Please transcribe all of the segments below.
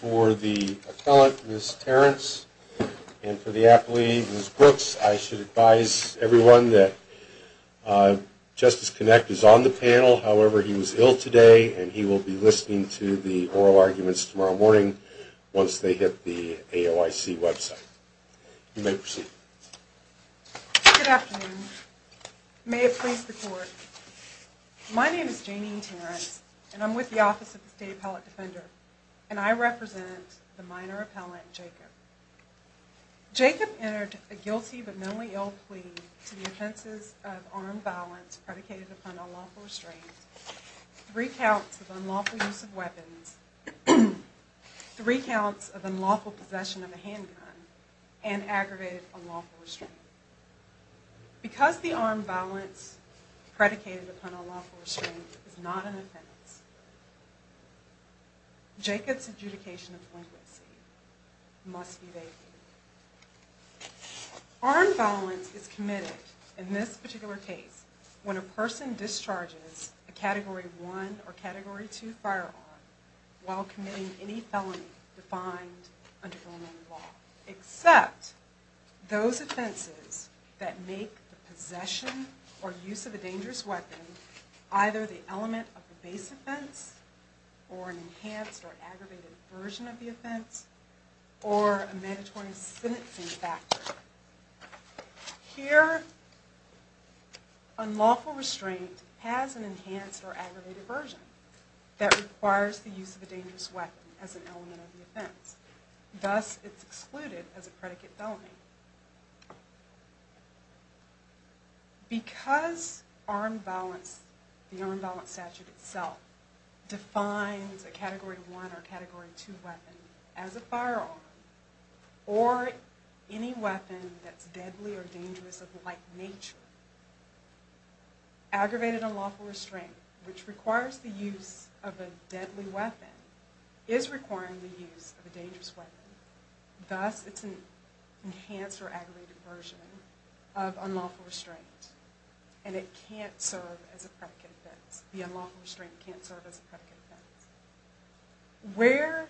For the appellate, Ms. Terrence, and for the appellate, Ms. Brooks, I should advise everyone that Justice Kinect is on the panel, however, he was ill today and he will be listening to the oral arguments tomorrow morning once they hit the AOIC website. You may proceed. Good afternoon. May it please the court. My name is Janine Terrence and I'm with the Office of the State Appellate Defender and I represent the minor appellant, Jacob. Jacob entered a guilty but mentally ill plea to the offenses of armed violence predicated upon unlawful restraint, three counts of unlawful use of weapons, three counts of unlawful possession of a handgun, and aggravated unlawful restraint. Because the armed violence predicated upon unlawful restraint is not an offense, Jacob's adjudication of delinquency must be vetted. Armed violence is committed in this particular case when a person discharges a Category 1 or Category 2 firearm while committing any felony defined under the law, except those offenses that make the possession or use of a dangerous weapon either the element of the base offense or an enhanced or aggravated version of the offense or a mandatory sentencing factor. Here, unlawful restraint has an enhanced or aggravated version that requires the use of a dangerous weapon as an element of the offense, thus it's excluded as a predicate felony. Because the armed violence statute itself defines a Category 1 or Category 2 weapon as a firearm or any weapon that's deadly or dangerous of like nature, aggravated unlawful restraint, which requires the use of a deadly weapon, is requiring the use of a dangerous weapon, thus it's an enhanced or aggravated version of unlawful restraint and it can't serve as a predicate offense, the unlawful restraint can't serve as a predicate offense. Where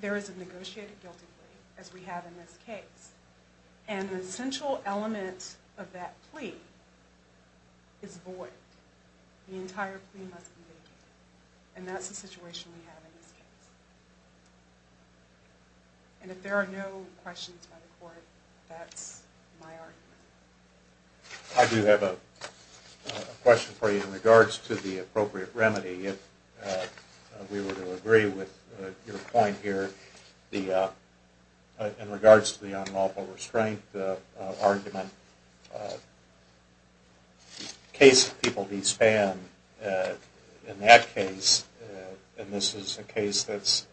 there is a negotiated guilty plea, as we have in this case, and the essential element of that plea is void, the entire plea must be vacated, and that's the situation we have in this case. And if there are no questions by the court, that's my argument. I do have a question for you in regards to the appropriate remedy, if we were to agree with your point here, in regards to the unlawful restraint argument, the case of People v. Spann, in that case, and this is a case that's,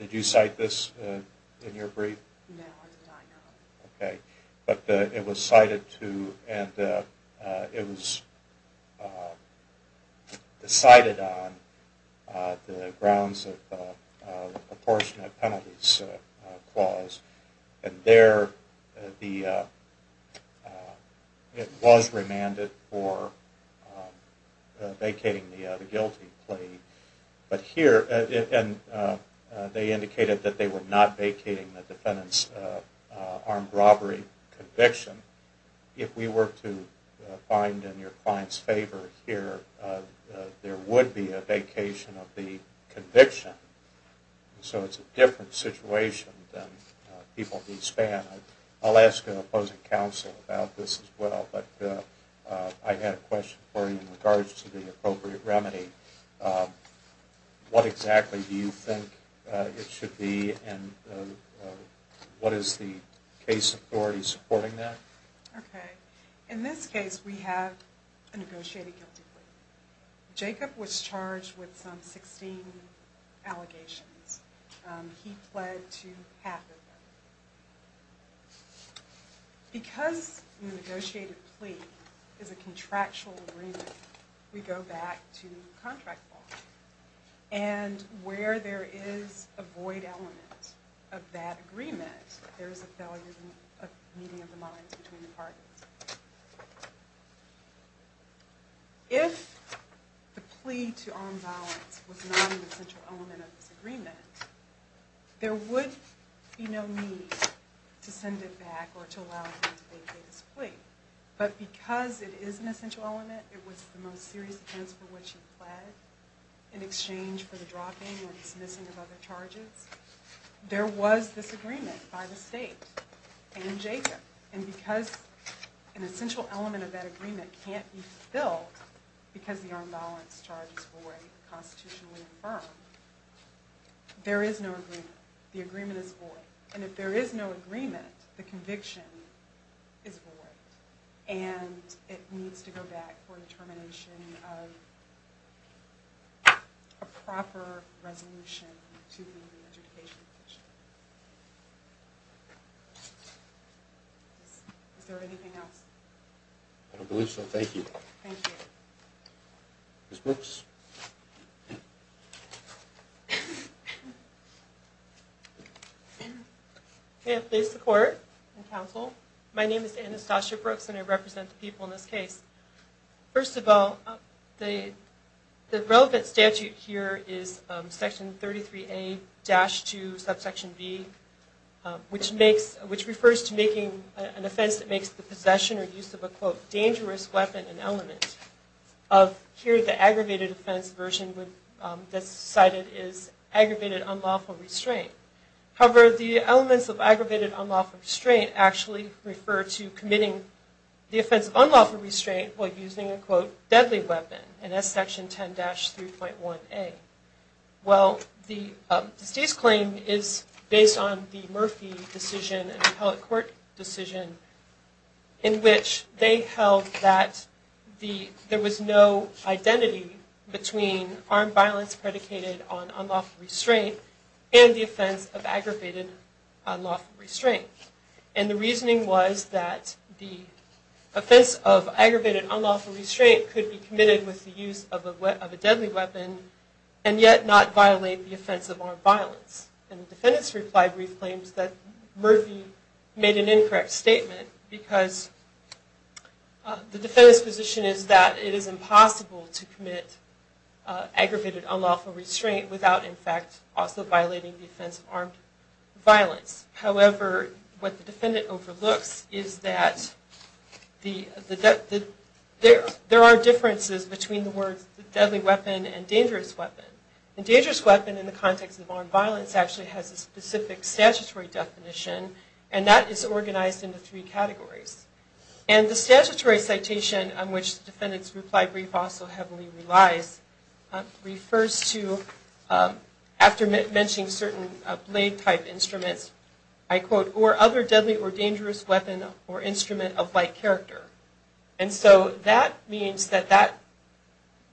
did you cite this in your brief? No, I did not. Okay, but it was cited to, and it was decided on the grounds of the proportionate penalties clause, and there the, it was remanded for vacating the guilty plea, but here, and they indicated that they were not vacating the defendant's armed robbery conviction, if we were to find in your client's favor here, there would be a vacation of the conviction, so it's a different situation than People v. Spann. I'll ask an opposing counsel about this as well, but I had a question for you in regards to the appropriate remedy. What exactly do you think it should be, and what is the case authority supporting that? Okay, in this case, we have a negotiated guilty plea. Jacob was charged with some 16 allegations. He pled to half of them. Because the negotiated plea is a contractual agreement, we go back to contract law, and where there is a void element of that agreement, there is a failure of meeting of the minds between the parties. If the plea to armed violence was not an essential element of this agreement, there would be no need to send it back or to allow it to be vacated as a plea, but because it is an essential element, it was the most serious offense for which he pled in exchange for the dropping or dismissing of other charges, there was this agreement by the state and Jacob, and because an essential element of that agreement can't be filled because the armed violence charge is void, constitutionally affirmed, there is no agreement. The agreement is void. And if there is no agreement, the conviction is void, and it needs to go back for the termination of a proper resolution to the adjudication petition. Is there anything else? I don't believe so. Thank you. Thank you. Ms. Brooks? May I please support and counsel? My name is Anastasia Brooks, and I represent the people in this case. First of all, the relevant statute here is Section 33A-2, Subsection B, which refers to making an offense that makes the possession or use of a, quote, dangerous weapon an element. Of here, the aggravated offense version that's cited is aggravated unlawful restraint. However, the elements of aggravated unlawful restraint actually refer to committing the offense of unlawful restraint while using a, quote, deadly weapon, and that's Section 10-3.1A. Well, the deceased claim is based on the Murphy decision and appellate court decision in which they held that there was no identity between armed violence predicated on unlawful restraint and the offense of aggravated unlawful restraint. And the reasoning was that the offense of aggravated unlawful restraint could be committed with the use of a deadly weapon and yet not violate the offense of armed violence. And the defendant's reply brief claims that Murphy made an incorrect statement because the defendant's position is that it is impossible to commit aggravated unlawful restraint without, in fact, also violating the offense of armed violence. However, what the defendant overlooks is that there are differences between the words deadly weapon and dangerous weapon. And dangerous weapon in the context of armed violence actually has a specific statutory definition and that is organized into three categories. And the statutory citation on which the defendant's reply brief also heavily relies, refers to, after mentioning certain blade type instruments, I quote, or other deadly or dangerous weapon or instrument of like character. And so that means that that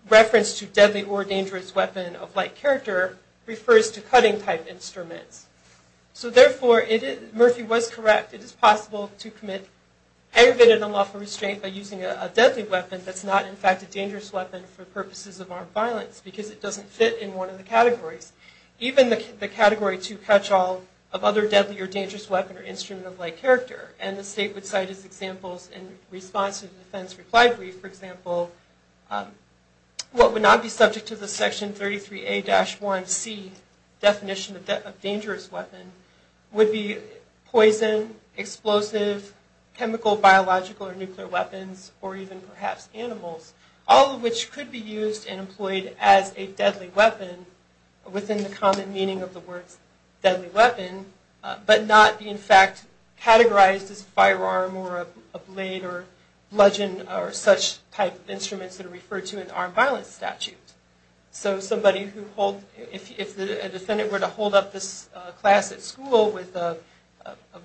reference to deadly or dangerous weapon of like character refers to cutting type instruments. So therefore, Murphy was correct. It is possible to commit aggravated unlawful restraint by using a deadly weapon that's not, in fact, a dangerous weapon for purposes of armed violence because it doesn't fit in one of the categories. Even the category to catch all of other deadly or dangerous weapon or instrument of like character in response to the defense reply brief, for example, what would not be subject to the Section 33A-1C definition of dangerous weapon would be poison, explosive, chemical, biological, or nuclear weapons, or even perhaps animals, all of which could be used and employed as a deadly weapon within the common meaning of the words deadly weapon, but not be, in fact, a knife or arm or a blade or bludgeon or such type of instruments that are referred to in armed violence statutes. So somebody who holds, if a defendant were to hold up this class at school with a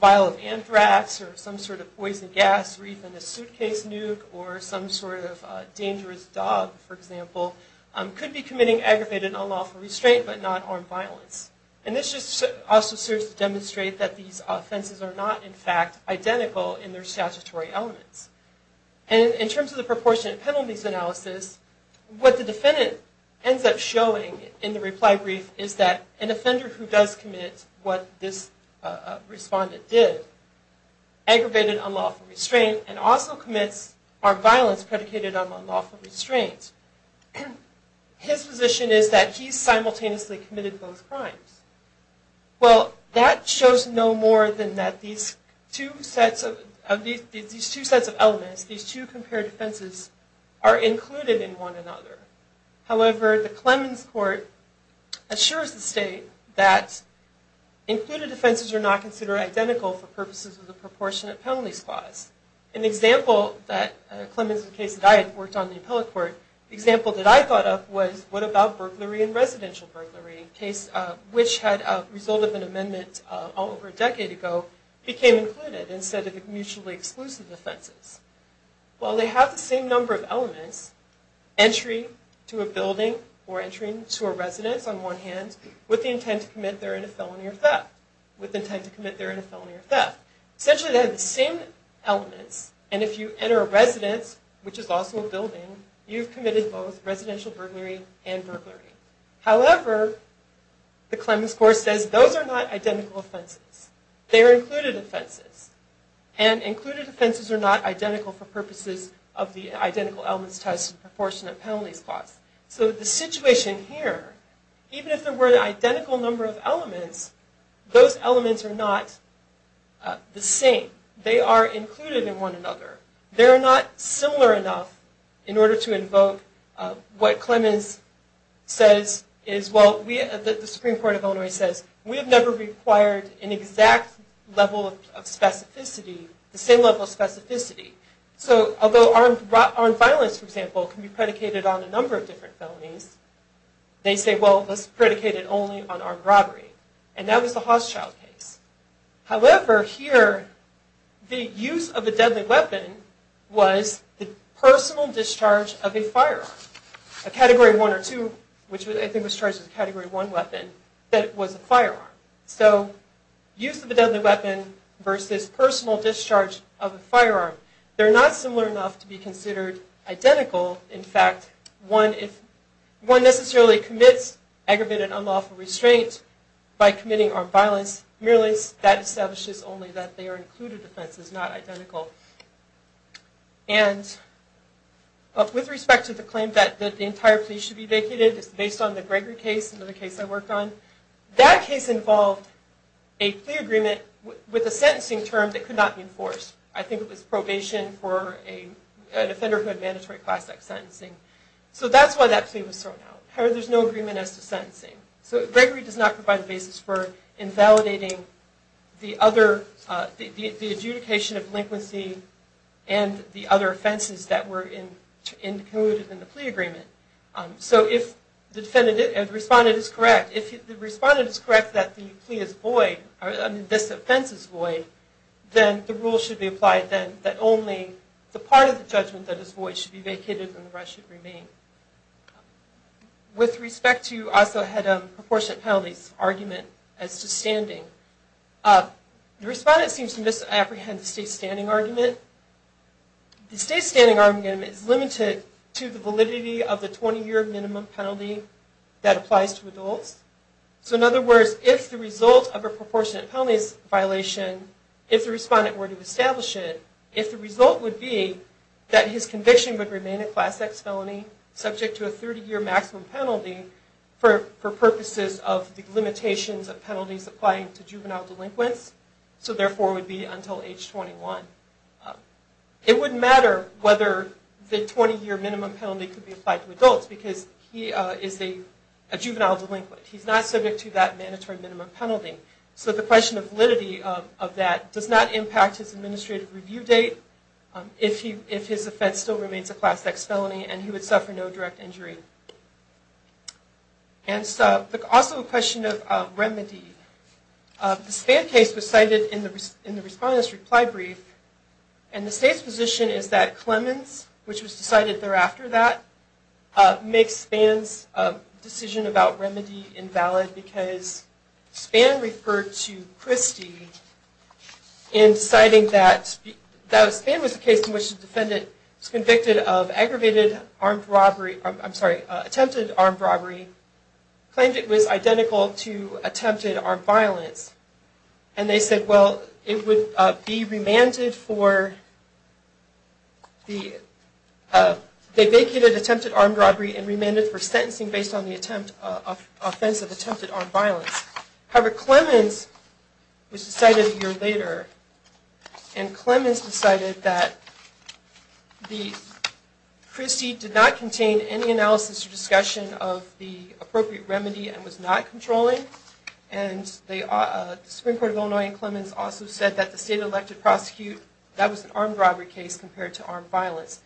vial of anthrax or some sort of poison gas or even a suitcase nuke or some sort of dangerous dog, for example, could be committing aggravated unlawful restraint but not armed violence. And this just also serves to demonstrate that these offenses are not, in fact, identical in their statutory elements. And in terms of the proportionate penalties analysis, what the defendant ends up showing in the reply brief is that an offender who does commit what this respondent did, aggravated unlawful restraint, and also commits armed violence predicated on unlawful restraint, his position is that he's simultaneously committed both crimes. Well, that shows no more than that these two sets of elements, these two compared offenses are included in one another. However, the Clemens Court assures the state that included offenses are not considered identical for purposes of the proportionate penalties clause. An example that Clemens case that I had worked on in the appellate court, the example that I thought of was what about burglary and residential burglary, a case which had a result of an amendment all over a decade ago became included instead of mutually exclusive offenses. Well, they have the same number of elements, entry to a building or entry to a residence on one hand with the intent to commit therein a felony or theft, with the intent to commit therein a felony or theft. Essentially, they have the same elements and if you enter a residence, which is also a building, you've committed both residential burglary and burglary. However, the Clemens Court says those are not identical offenses, they are included offenses and included offenses are not identical for purposes of the identical elements test and proportionate penalties clause. So the situation here, even if there were an identical number of elements, those elements are not the same. They are included in one another. They are not similar enough in order to invoke what Clemens says is, well, the Supreme Court of Illinois says we have never required an exact level of specificity, the same level of specificity. So although armed violence, for example, can be predicated on a number of different felonies, they say, well, let's predicate it only on armed robbery. And that was the Hochschild case. However, here, the use of a deadly weapon was the personal discharge of a firearm, a Category 1 or 2, which I think was charged as a Category 1 weapon, that was a firearm. So use of a deadly weapon versus personal discharge of a firearm, they're not similar enough to be considered identical. In fact, one necessarily commits aggravated unlawful restraint by committing armed violence. Merely, that establishes only that they are included offenses, not identical. And with respect to the claim that the entire plea should be vacated, it's based on the Gregory case, another case I worked on. That case involved a plea agreement with a sentencing term that could not be enforced. I think it was probation for an offender who had mandatory class act sentencing. So that's why that plea was thrown out. There's no agreement as to sentencing. So Gregory does not provide a basis for invalidating the adjudication of delinquency and the other offenses that were included in the plea agreement. So if the defendant and the respondent is correct, if the respondent is correct that the plea is void, or this offense is void, then the rule should be applied then that only the part of the judgment that is void should be vacated and the rest should remain. With respect to, I also had a proportionate penalties argument as to standing. The respondent seems to misapprehend the state standing argument. The state standing argument is limited to the validity of the 20-year minimum penalty that applies to adults. So in other words, if the result of a proportionate penalties violation, if the respondent were to establish it, if the result would be that his conviction would remain a Class X felony subject to a 30-year maximum penalty for purposes of the limitations of penalties applying to juvenile delinquents, so therefore would be until age 21, it wouldn't matter whether the 20-year minimum penalty could be applied to adults because he is a juvenile delinquent. He's not subject to that mandatory minimum penalty. So the question of validity of that does not impact his administrative review date if his offense still remains a Class X felony and he would suffer no direct injury. And also a question of remedy. The Spann case was cited in the respondent's reply brief, and the state's position is that Clemens, which was decided thereafter that, makes Spann's decision about remedy invalid because Spann referred to Christie in citing that Spann was the case in which the defendant was convicted of aggravated armed robbery, I'm sorry, attempted armed robbery, claimed it was identical to attempted armed violence. And they said, well, it would be remanded for, they vacated attempted armed robbery and remanded for sentencing based on the offense of attempted armed violence. However, Clemens was decided a year later, and Clemens decided that Christie did not contain any analysis or discussion of the appropriate remedy and was not controlling, and the Supreme Court of Illinois and Clemens also said that the state-elected prosecute, that was an armed robbery case compared to armed violence.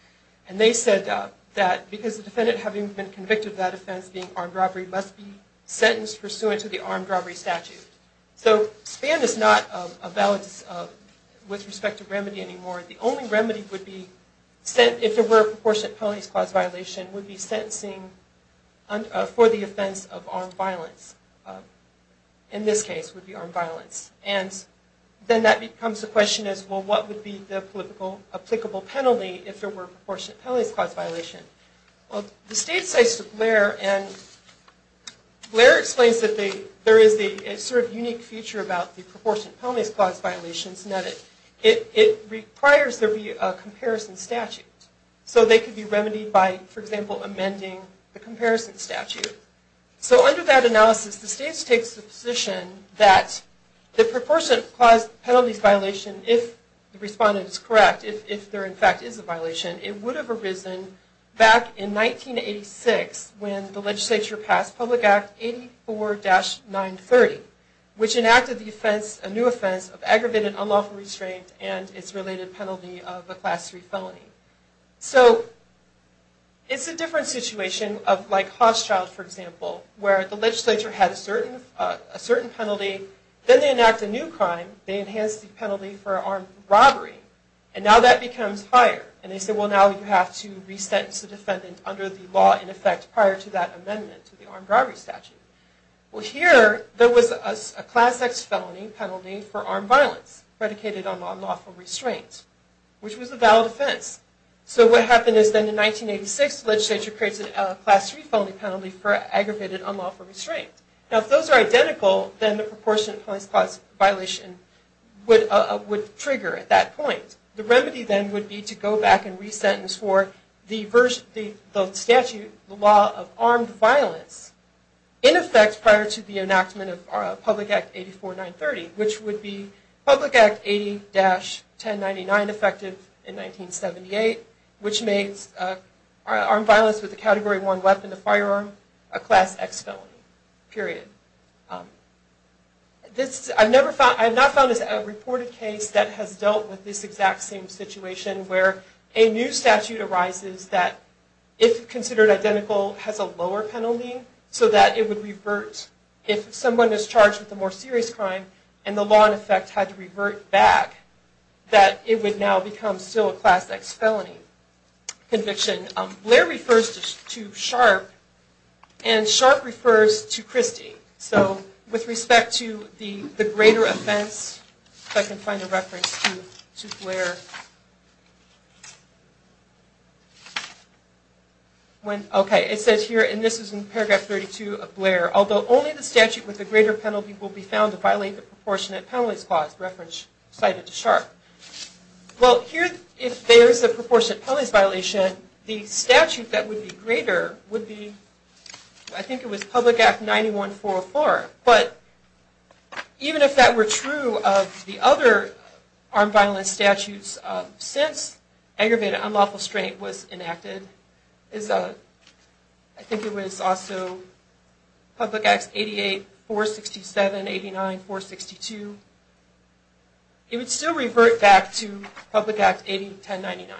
And they said that because the defendant having been convicted of that offense being armed robbery must be sentenced pursuant to the armed robbery statute. So Spann is not a valid, with respect to remedy anymore. The only remedy would be sent, if there were a proportionate penalty clause violation, would be sentencing for the offense of armed violence. In this case, it would be armed violence. And then that becomes the question as, well, what would be the applicable penalty if there were a proportionate penalty clause violation? Well, the state says to Blair, and Blair explains that there is a sort of unique feature about the proportionate penalty clause violations in that it requires there be a comparison statute. So they could be remedied by, for example, amending the comparison statute. So under that analysis, the state takes the position that the proportionate penalty violation, if the respondent is correct, if there in fact is a violation, it would have arisen back in 1986 when the legislature passed Public Act 84-930, which enacted the offense, a new felony. So it's a different situation of like Hochschild, for example, where the legislature had a certain penalty, then they enact a new crime, they enhance the penalty for armed robbery, and now that becomes higher. And they say, well, now you have to re-sentence the defendant under the law, in effect, prior to that amendment to the armed robbery statute. Well, here there was a Class X felony penalty for armed violence predicated on unlawful restraint, which was a valid offense. So what happened is then in 1986, the legislature creates a Class III felony penalty for aggravated unlawful restraint. Now if those are identical, then the proportionate penalty clause violation would trigger at that point. The remedy then would be to go back and re-sentence for the statute, the law of armed violence, in effect, prior to the enactment of Public Act 84-930, which would be Public Act 80-1099 effective in 1978, which makes armed violence with a Category I weapon, a firearm, a Class X felony, period. This, I've never found, I've not found a reported case that has dealt with this exact same situation, where a new statute arises that, if considered identical, has a lower penalty so that it would revert if someone is charged with a more serious crime, and the law, in effect, had to revert back, that it would now become still a Class X felony conviction. Blair refers to Sharpe, and Sharpe refers to Christie. So with respect to the greater offense, if I can find a reference to Blair. Okay, it says here, and this is in paragraph 32 of Blair, although only the statute with proportionate penalties clause reference cited to Sharpe. Well, here, if there is a proportionate penalties violation, the statute that would be greater would be, I think it was Public Act 91-404, but even if that were true of the other armed violence statutes since aggravated unlawful restraint was enacted, I think it was also Public Act 88-467, 89-462, it would still revert back to Public Act 80-1099.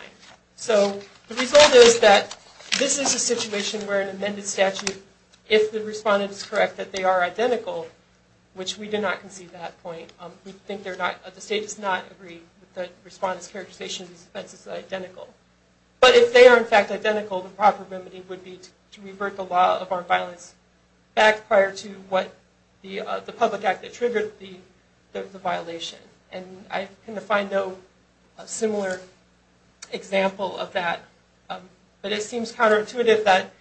So the result is that this is a situation where an amended statute, if the respondent is correct that they are identical, which we do not concede that point, we think they're not, the state does not agree that the respondent's characterization of these offenses are identical. But if they are, in fact, identical, the proper remedy would be to revert the law of armed violence back prior to what the Public Act attributed the violation. And I can find no similar example of that, but it seems counterintuitive that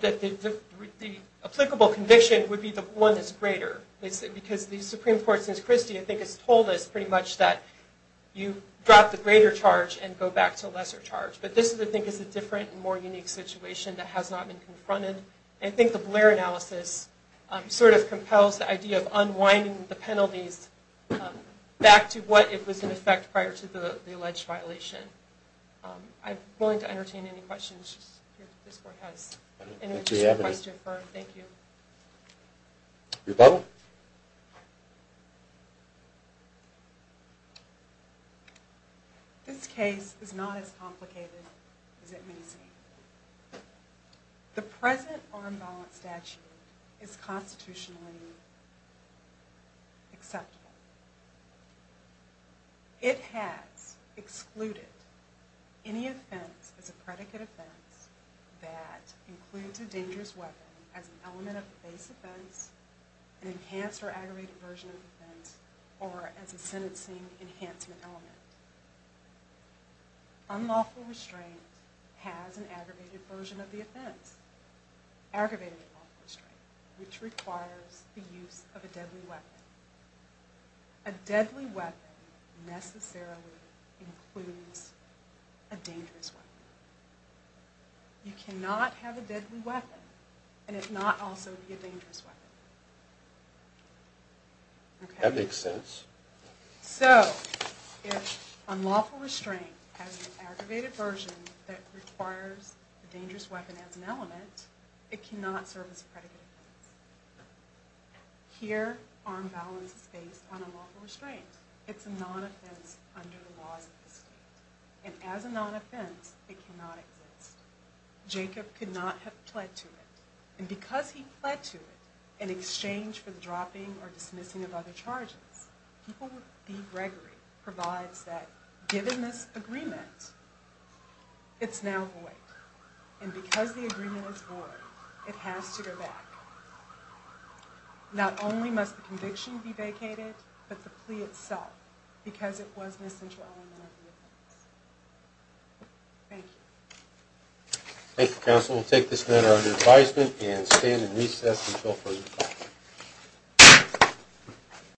the applicable conviction would be the one that's greater, because the Supreme Court, since Christie, I think has told us pretty much that you drop the greater charge and go back to lesser charge. But this, I think, is a different and more unique situation that has not been confronted. I think the Blair analysis sort of compels the idea of unwinding the penalties back to what it was in effect prior to the alleged violation. I'm willing to entertain any questions if this Court has any requests to infer. Thank you. Your Bible. This case is not as complicated as it may seem. The present armed violence statute is constitutionally acceptable. It has excluded any offense as a predicate offense that includes a dangerous weapon as an element of a base offense, an enhanced or aggravated version of the offense, or as a sentencing enhancement element. Unlawful restraint has an aggravated version of the offense, aggravated unlawful restraint, which requires the use of a deadly weapon. A deadly weapon necessarily includes a dangerous weapon. You cannot have a deadly weapon and it not also be a dangerous weapon. That makes sense. So, if unlawful restraint has an aggravated version that requires a dangerous weapon as an element, it cannot serve as a predicate offense. Here, armed violence is based on unlawful restraint. It's a non-offense under the laws of the state. And as a non-offense, it cannot exist. Jacob could not have pled to it. And because he pled to it in exchange for the dropping or dismissing of other charges, people would think Gregory provides that given this agreement, it's now void. And because the agreement is void, it has to go back. Not only must the conviction be vacated, but the plea itself, because it was an essential element of the offense. Thank you. Thank you, counsel. We'll take this matter under advisement and stand in recess until further time.